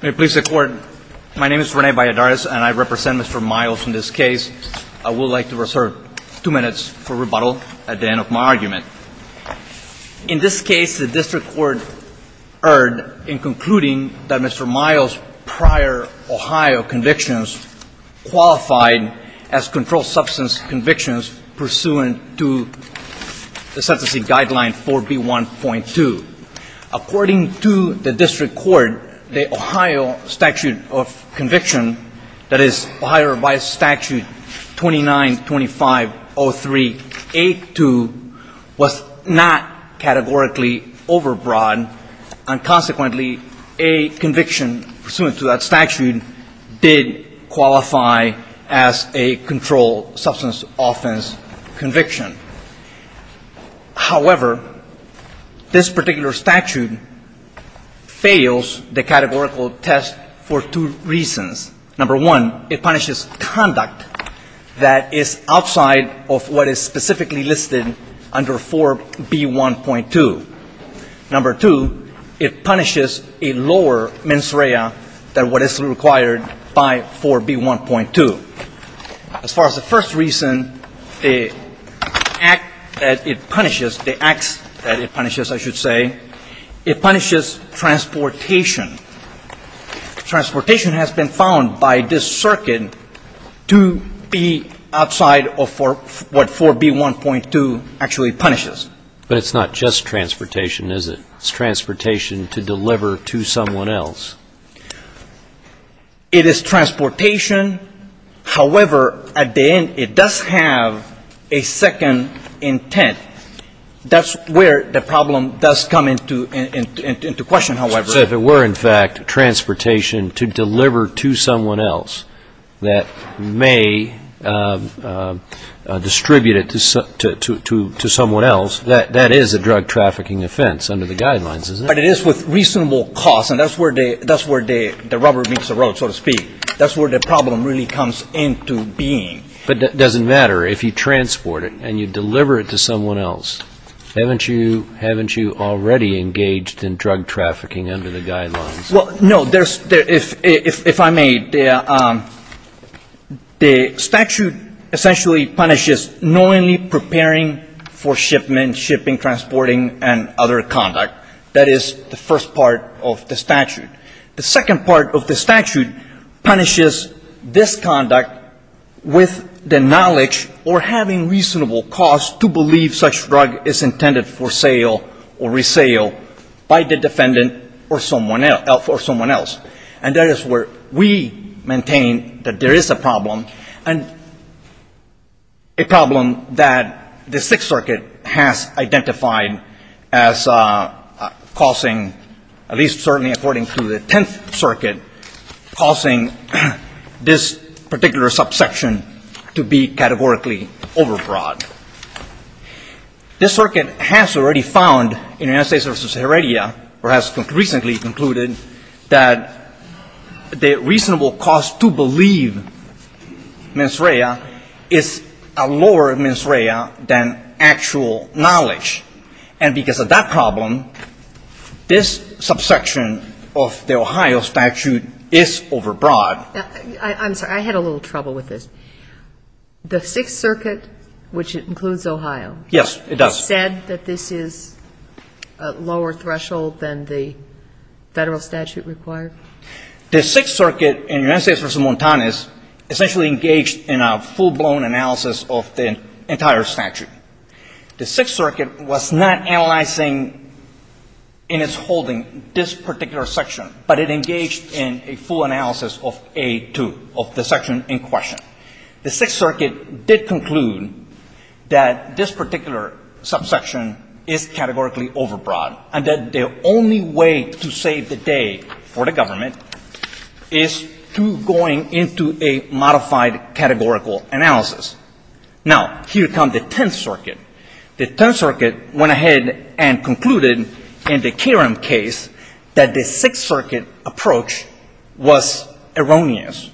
May it please the Court, my name is Rene Balladares and I represent Mr. Miles in this case. I would like to reserve two minutes for rebuttal at the end of my argument. In this case, the District Court erred in concluding that Mr. Miles' prior Ohio convictions qualified as controlled substance convictions pursuant to the sentencing guideline 4B1.2. According to the District Court, the Ohio statute of conviction, that is, Ohio Vice Statute 2925.03.82, was not categorically overbroad. And consequently, a conviction pursuant to that statute did qualify as a controlled substance offense conviction. However, this particular statute fails the categorical test for two reasons. Number one, it punishes conduct that is outside of what is specifically listed under 4B1.2. Number two, it punishes a lower mens rea than what is required by 4B1.2. As far as the first reason, the act that it punishes, the acts that it punishes, I should say, it punishes transportation. Transportation has been found by this circuit to be outside of what 4B1.2 actually punishes. But it's not just transportation, is it? It's transportation to deliver to someone else. It is transportation. However, at the end, it does have a second intent. That's where the problem does come into question, however. So if it were, in fact, transportation to deliver to someone else that may distribute it to someone else, that is a drug trafficking offense under the guidelines, isn't it? But it is with reasonable cost, and that's where the rubber meets the road, so to speak. That's where the problem really comes into being. But it doesn't matter if you transport it and you deliver it to someone else. Haven't you already engaged in drug trafficking under the guidelines? Well, no. If I may, the statute essentially punishes knowingly preparing for shipment, shipping, transporting, and other conduct. That is the first part of the statute. The second part of the statute punishes this conduct with the knowledge or having reasonable cost to believe such drug is intended for sale or resale by the defendant or someone else. And that is where we maintain that there is a problem, and a problem that the Sixth Circuit has identified as causing, at least certainly according to the Tenth Circuit, causing this particular subsection to be categorically overbought. This Circuit has already found in United States v. Heredia, or has recently concluded, that the reasonable cost to believe mens rea is a lower mens rea than actual knowledge. And because of that problem, this subsection of the Ohio statute is overbought. I'm sorry. I had a little trouble with this. The Sixth Circuit, which includes Ohio. Yes, it does. Has said that this is a lower threshold than the Federal statute required? The Sixth Circuit in United States v. Montanez essentially engaged in a full-blown analysis of the entire statute. The Sixth Circuit was not analyzing in its holding this particular section, but it engaged in a full analysis of A2, of the section in question. The Sixth Circuit did conclude that this particular subsection is categorically overbought, and that the only way to save the day for the government is through going into a modified categorical analysis. Now, here comes the Tenth Circuit. The Tenth Circuit went ahead and concluded in the Karem case that the Sixth Circuit approach was erroneous.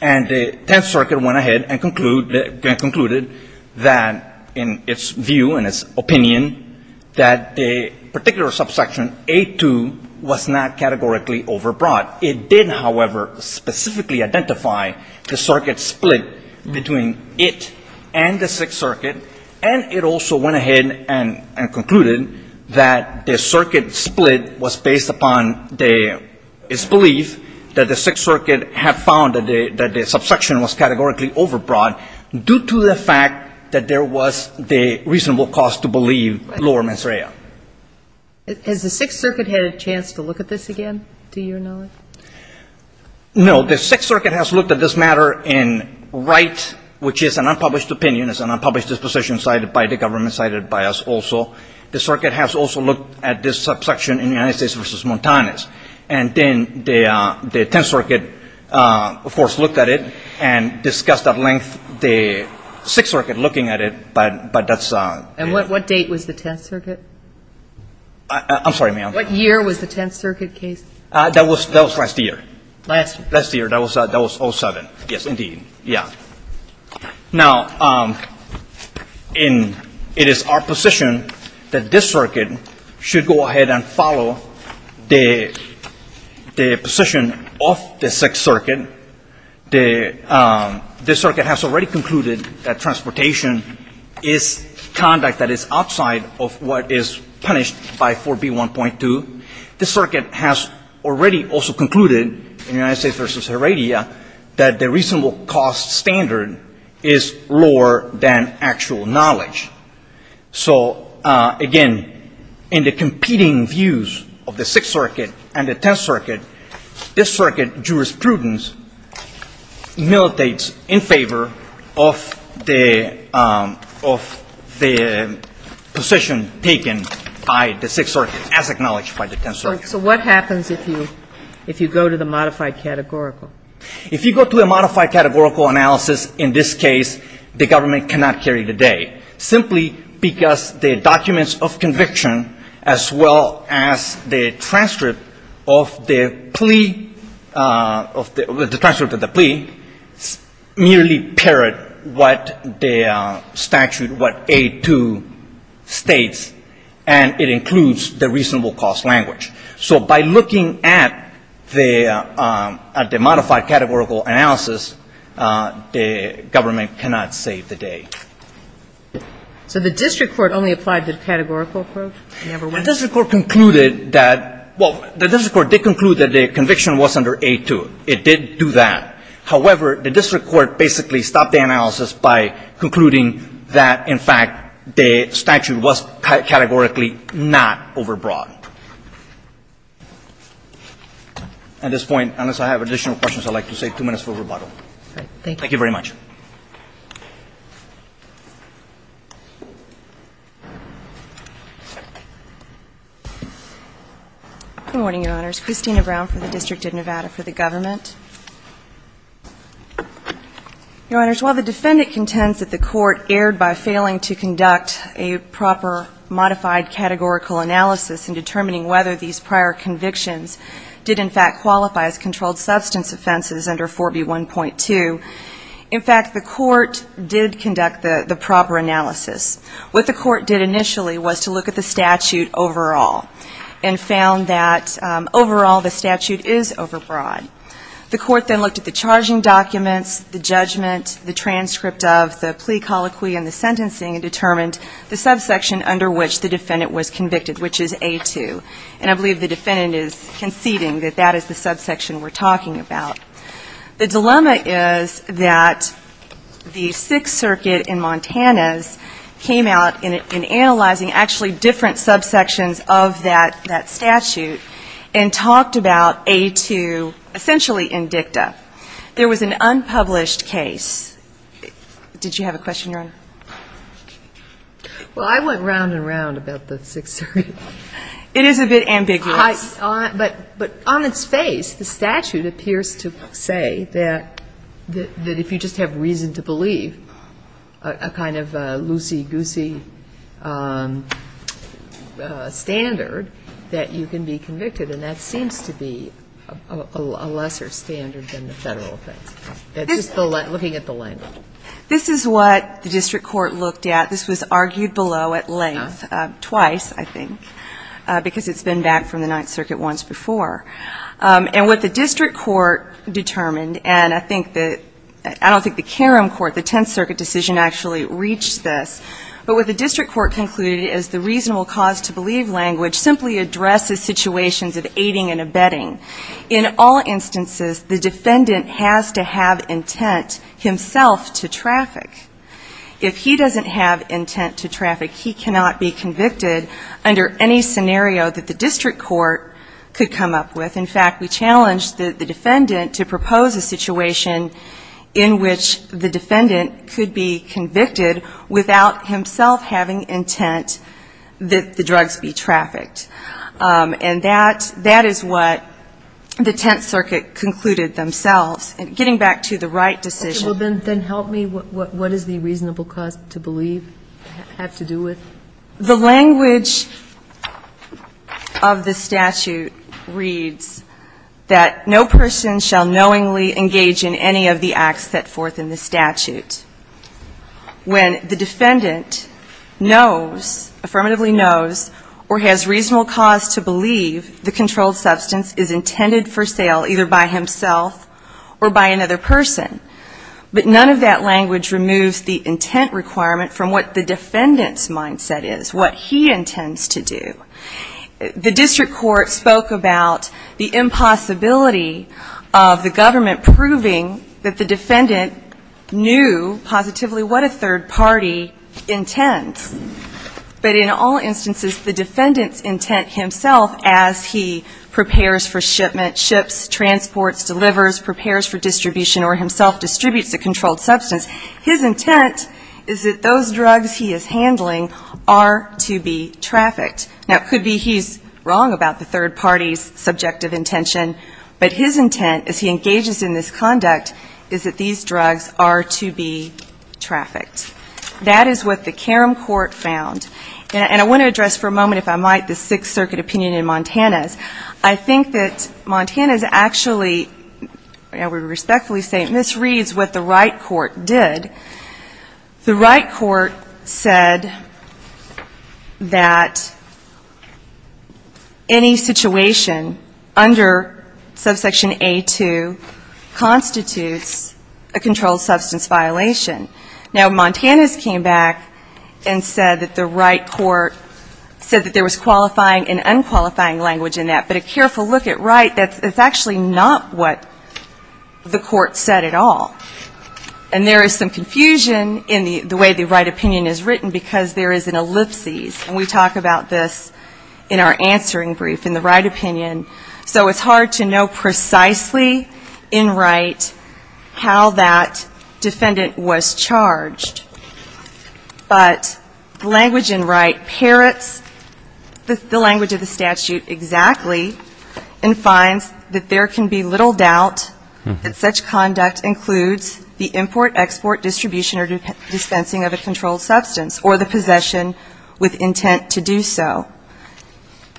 And the Tenth Circuit went ahead and concluded that, in its view, in its opinion, that the particular subsection A2 was not categorically overbought. It did, however, specifically identify the circuit split between it and the Sixth Circuit. And it also went ahead and concluded that the circuit split was based upon its belief that the Sixth Circuit had found that the subsection was categorically overbought due to the fact that there was the reasonable cause to believe lower mens rea. Has the Sixth Circuit had a chance to look at this again, to your knowledge? No. The Sixth Circuit has looked at this matter in write, which is an unpublished opinion. It's an unpublished disposition cited by the government, cited by us also. The Circuit has also looked at this subsection in the United States v. Montanez. And then the Tenth Circuit, of course, looked at it and discussed at length the Sixth Circuit looking at it, but that's... And what date was the Tenth Circuit? I'm sorry, ma'am. What year was the Tenth Circuit case? That was last year. Last year. Last year. That was 07. Yes, indeed. Yeah. Now, it is our position that this circuit should go ahead and follow the position of the Sixth Circuit. This circuit has already concluded that transportation is conduct that is outside of what is punished by 4B1.2. This circuit has already also concluded in the United States v. Heredia that the reasonable cause standard is lower than actual knowledge. So, again, in the competing views of the Sixth Circuit and the Tenth Circuit, this circuit jurisprudence militates in favor of the position taken by the Sixth Circuit as acknowledged by the Tenth Circuit. So what happens if you go to the modified categorical? If you go to a modified categorical analysis, in this case, the government cannot carry the day simply because the documents of conviction as well as the transcript of the plea merely parrot what the statute, what 8.2, states, and it includes the reasonable cause language. So by looking at the modified categorical analysis, the government cannot save the day. So the district court only applied the categorical approach? The district court concluded that the conviction was under 8.2. It did do that. However, the district court basically stopped the analysis by concluding that, in fact, the statute was categorically not overbroad. At this point, unless I have additional questions, I'd like to save two minutes for rebuttal. Thank you very much. Good morning, Your Honors. Christina Brown for the District of Nevada for the government. Your Honors, while the defendant contends that the court erred by failing to conduct a proper modified categorical analysis in determining whether these prior convictions did, in fact, qualify as controlled substance offenses under 4B1.2, in fact, the defendant did not. In fact, the court did conduct the proper analysis. What the court did initially was to look at the statute overall and found that, overall, the statute is overbroad. The court then looked at the charging documents, the judgment, the transcript of, the plea colloquy, and the sentencing and determined the subsection under which the defendant was convicted, which is 8.2. And I believe the defendant is conceding that that is the subsection we're talking about. The dilemma is that the Sixth Circuit in Montana came out in analyzing actually different subsections of that statute and talked about 8.2 essentially in dicta. There was an unpublished case. Did you have a question, Your Honor? Well, I went round and round about the Sixth Circuit. It is a bit ambiguous. But on its face, the statute appears to say that if you just have reason to believe a kind of loosey-goosey standard that you can be convicted, and that seems to be a lesser standard than the Federal offense. It's just looking at the language. This is what the district court looked at. This was argued below at length twice, I think, because it's been back from the Ninth Circuit once before. And what the district court determined, and I don't think the Karam court, the Tenth Circuit decision, actually reached this. But what the district court concluded is the reasonable cause to believe language simply addresses situations of aiding and abetting. In all instances, the defendant has to have intent himself to traffic. If he doesn't have intent to traffic, he cannot be convicted under any scenario that the district court could come up with. In fact, we challenged the defendant to propose a situation in which the defendant could be convicted without himself having intent that the drugs be trafficked. And that is what the Tenth Circuit concluded themselves, getting back to the right decision. Then help me. What does the reasonable cause to believe have to do with? The language of the statute reads that no person shall knowingly engage in any of the acts set forth in the statute. When the defendant knows, affirmatively knows, or has reasonable cause to believe the controlled substance is intended for sale either by himself or by another person. But none of that language removes the intent requirement from what the defendant's mindset is, what he intends to do. The district court spoke about the impossibility of the government proving that the defendant knew positively what a third party intends. But in all instances, the defendant's intent himself as he prepares for shipment, ships, transports, delivers, prepares for distribution, or himself distributes a controlled substance, his intent is that those drugs he is handling are to be trafficked. Now, it could be he's wrong about the third party's subjective intention. But his intent as he engages in this conduct is that these drugs are to be trafficked. That is what the Karam Court found. And I want to address for a moment, if I might, the Sixth Circuit opinion in Montana's. I think that Montana's actually, and we respectfully say, misreads what the Wright Court did. The Wright Court said that any situation under subsection A2 constitutes a controlled substance violation. Now, Montana's came back and said that the Wright Court said that there was qualifying and unqualifying language in that. But a careful look at Wright, that's actually not what the court said at all. And there is some confusion in the way the Wright opinion is written because there is an ellipsis. And we talk about this in our answering brief in the Wright opinion. So it's hard to know precisely in Wright how that defendant was charged. But the language in Wright parrots the language of the statute exactly and finds that there can be little doubt that such conduct includes the import, export, distribution, or dispensing of a controlled substance or the possession with intent to do so.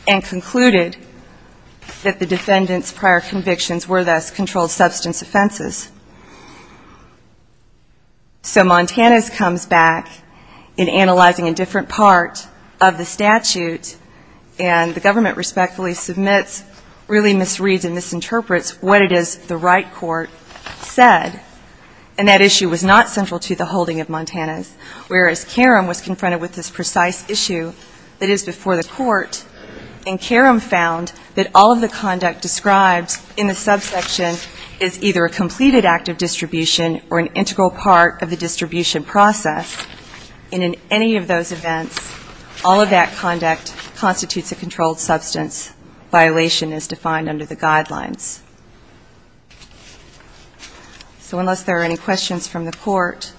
And concluded that the defendant's prior convictions were thus controlled substance offenses. So Montana's comes back in analyzing a different part of the statute and the government respectfully submits, really misreads and misinterprets what it is the Wright Court said. And that issue was not central to the holding of Montana's. Whereas Karam was confronted with this precise issue that is before the court and Karam found that all of the conduct described in the subsection is either a completed act of distribution or an integral part of the distribution process. And in any of those events, all of that conduct constitutes a controlled substance violation as defined under the guidelines. So unless there are any questions from the court,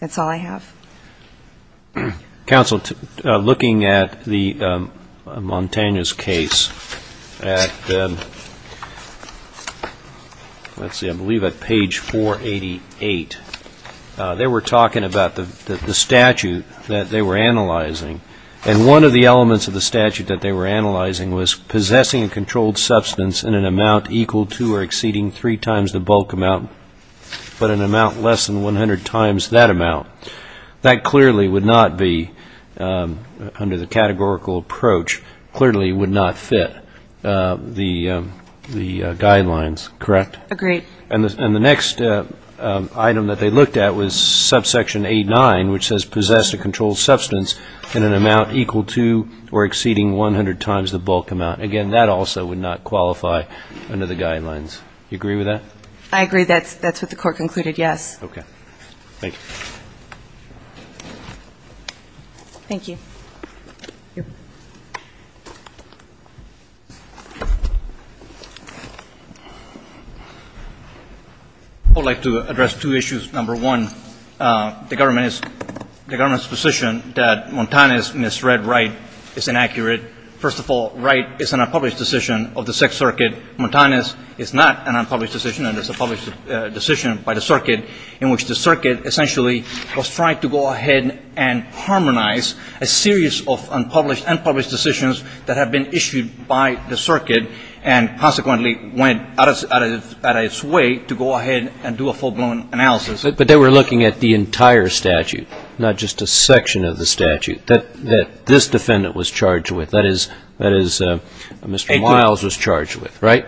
that's all I have. Counsel, looking at the Montana's case at, let's see, I believe at page 488, they were talking about the statute that they were analyzing. And one of the elements of the statute that they were analyzing was possessing a controlled substance in an amount equal to or exceeding three times the bulk amount, but an amount less than 100 times that amount. That clearly would not be under the categorical approach, clearly would not fit the guidelines, correct? Agreed. And the next item that they looked at was subsection 89, which says possess a controlled substance in an amount equal to or exceeding 100 times the bulk amount. Again, that also would not qualify under the guidelines. Do you agree with that? I agree. That's what the court concluded, yes. Okay. Thank you. Thank you. I would like to address two issues. Number one, the government's position that Montana's misread right is inaccurate. First of all, right is an unpublished decision of the Sixth Circuit. Montana's is not an unpublished decision, and it's a published decision by the circuit, in which the circuit essentially was trying to go ahead and harmonize a series of unpublished and published decisions that have been issued by the circuit, and consequently went out of its way to go ahead and do a full-blown analysis. But they were looking at the entire statute, not just a section of the statute that this defendant was charged with. That is, Mr. Miles was charged with, right?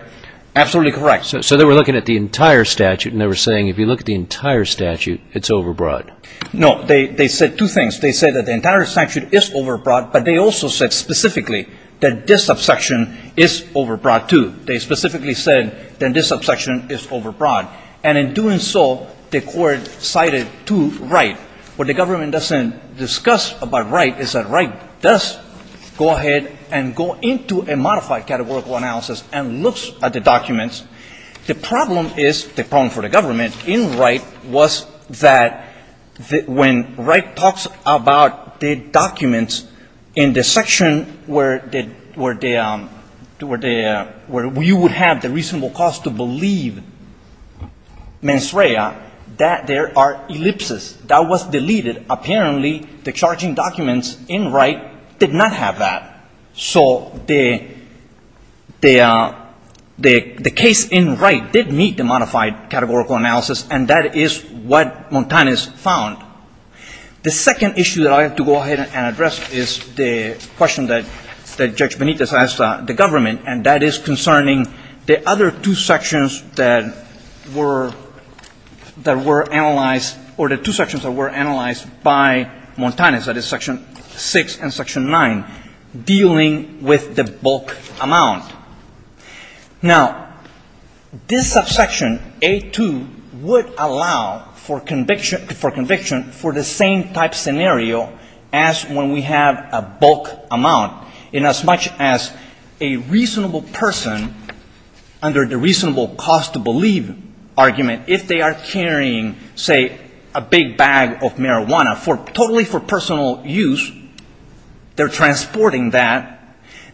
Absolutely correct. So they were looking at the entire statute, and they were saying, if you look at the entire statute, it's overbroad. No. They said two things. They said that the entire statute is overbroad, but they also said specifically that this subsection is overbroad too. They specifically said that this subsection is overbroad. And in doing so, the court cited to right. What the government doesn't discuss about right is that right does go ahead and go into a modified categorical analysis and looks at the documents. The problem is, the problem for the government in right was that when right talks about the documents in the section where you would have the reasonable cause to believe mens rea, that there are ellipses. That was deleted. Apparently, the charging documents in right did not have that. So the case in right did meet the modified categorical analysis, and that is what Montanez found. The second issue that I have to go ahead and address is the question that Judge Benitez asked the government, and that is concerning the other two sections that were analyzed, or the two sections that were analyzed by Montanez, that is section 6 and section 9, dealing with the bulk amount. Now, this subsection, A2, would allow for conviction for the same type scenario as when we have a bulk amount. Inasmuch as a reasonable person, under the reasonable cause to believe argument, if they are carrying, say, a big bag of marijuana totally for personal use, they're transporting that,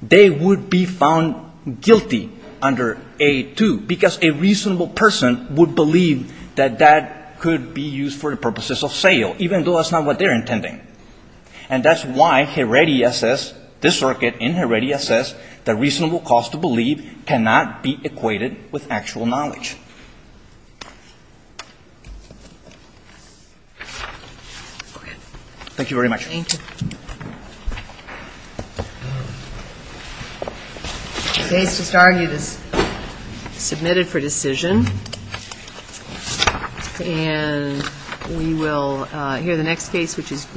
they would be found guilty under A2, because a reasonable person would believe that that could be used for the purposes of sale, even though that's not what they're intending. And that's why Heredia says, this circuit in Heredia says the reasonable cause to believe cannot be equated with actual knowledge. Thank you very much. Thank you. The case just argued is submitted for decision. And we will hear the next case, which is Griffin v. Prosper.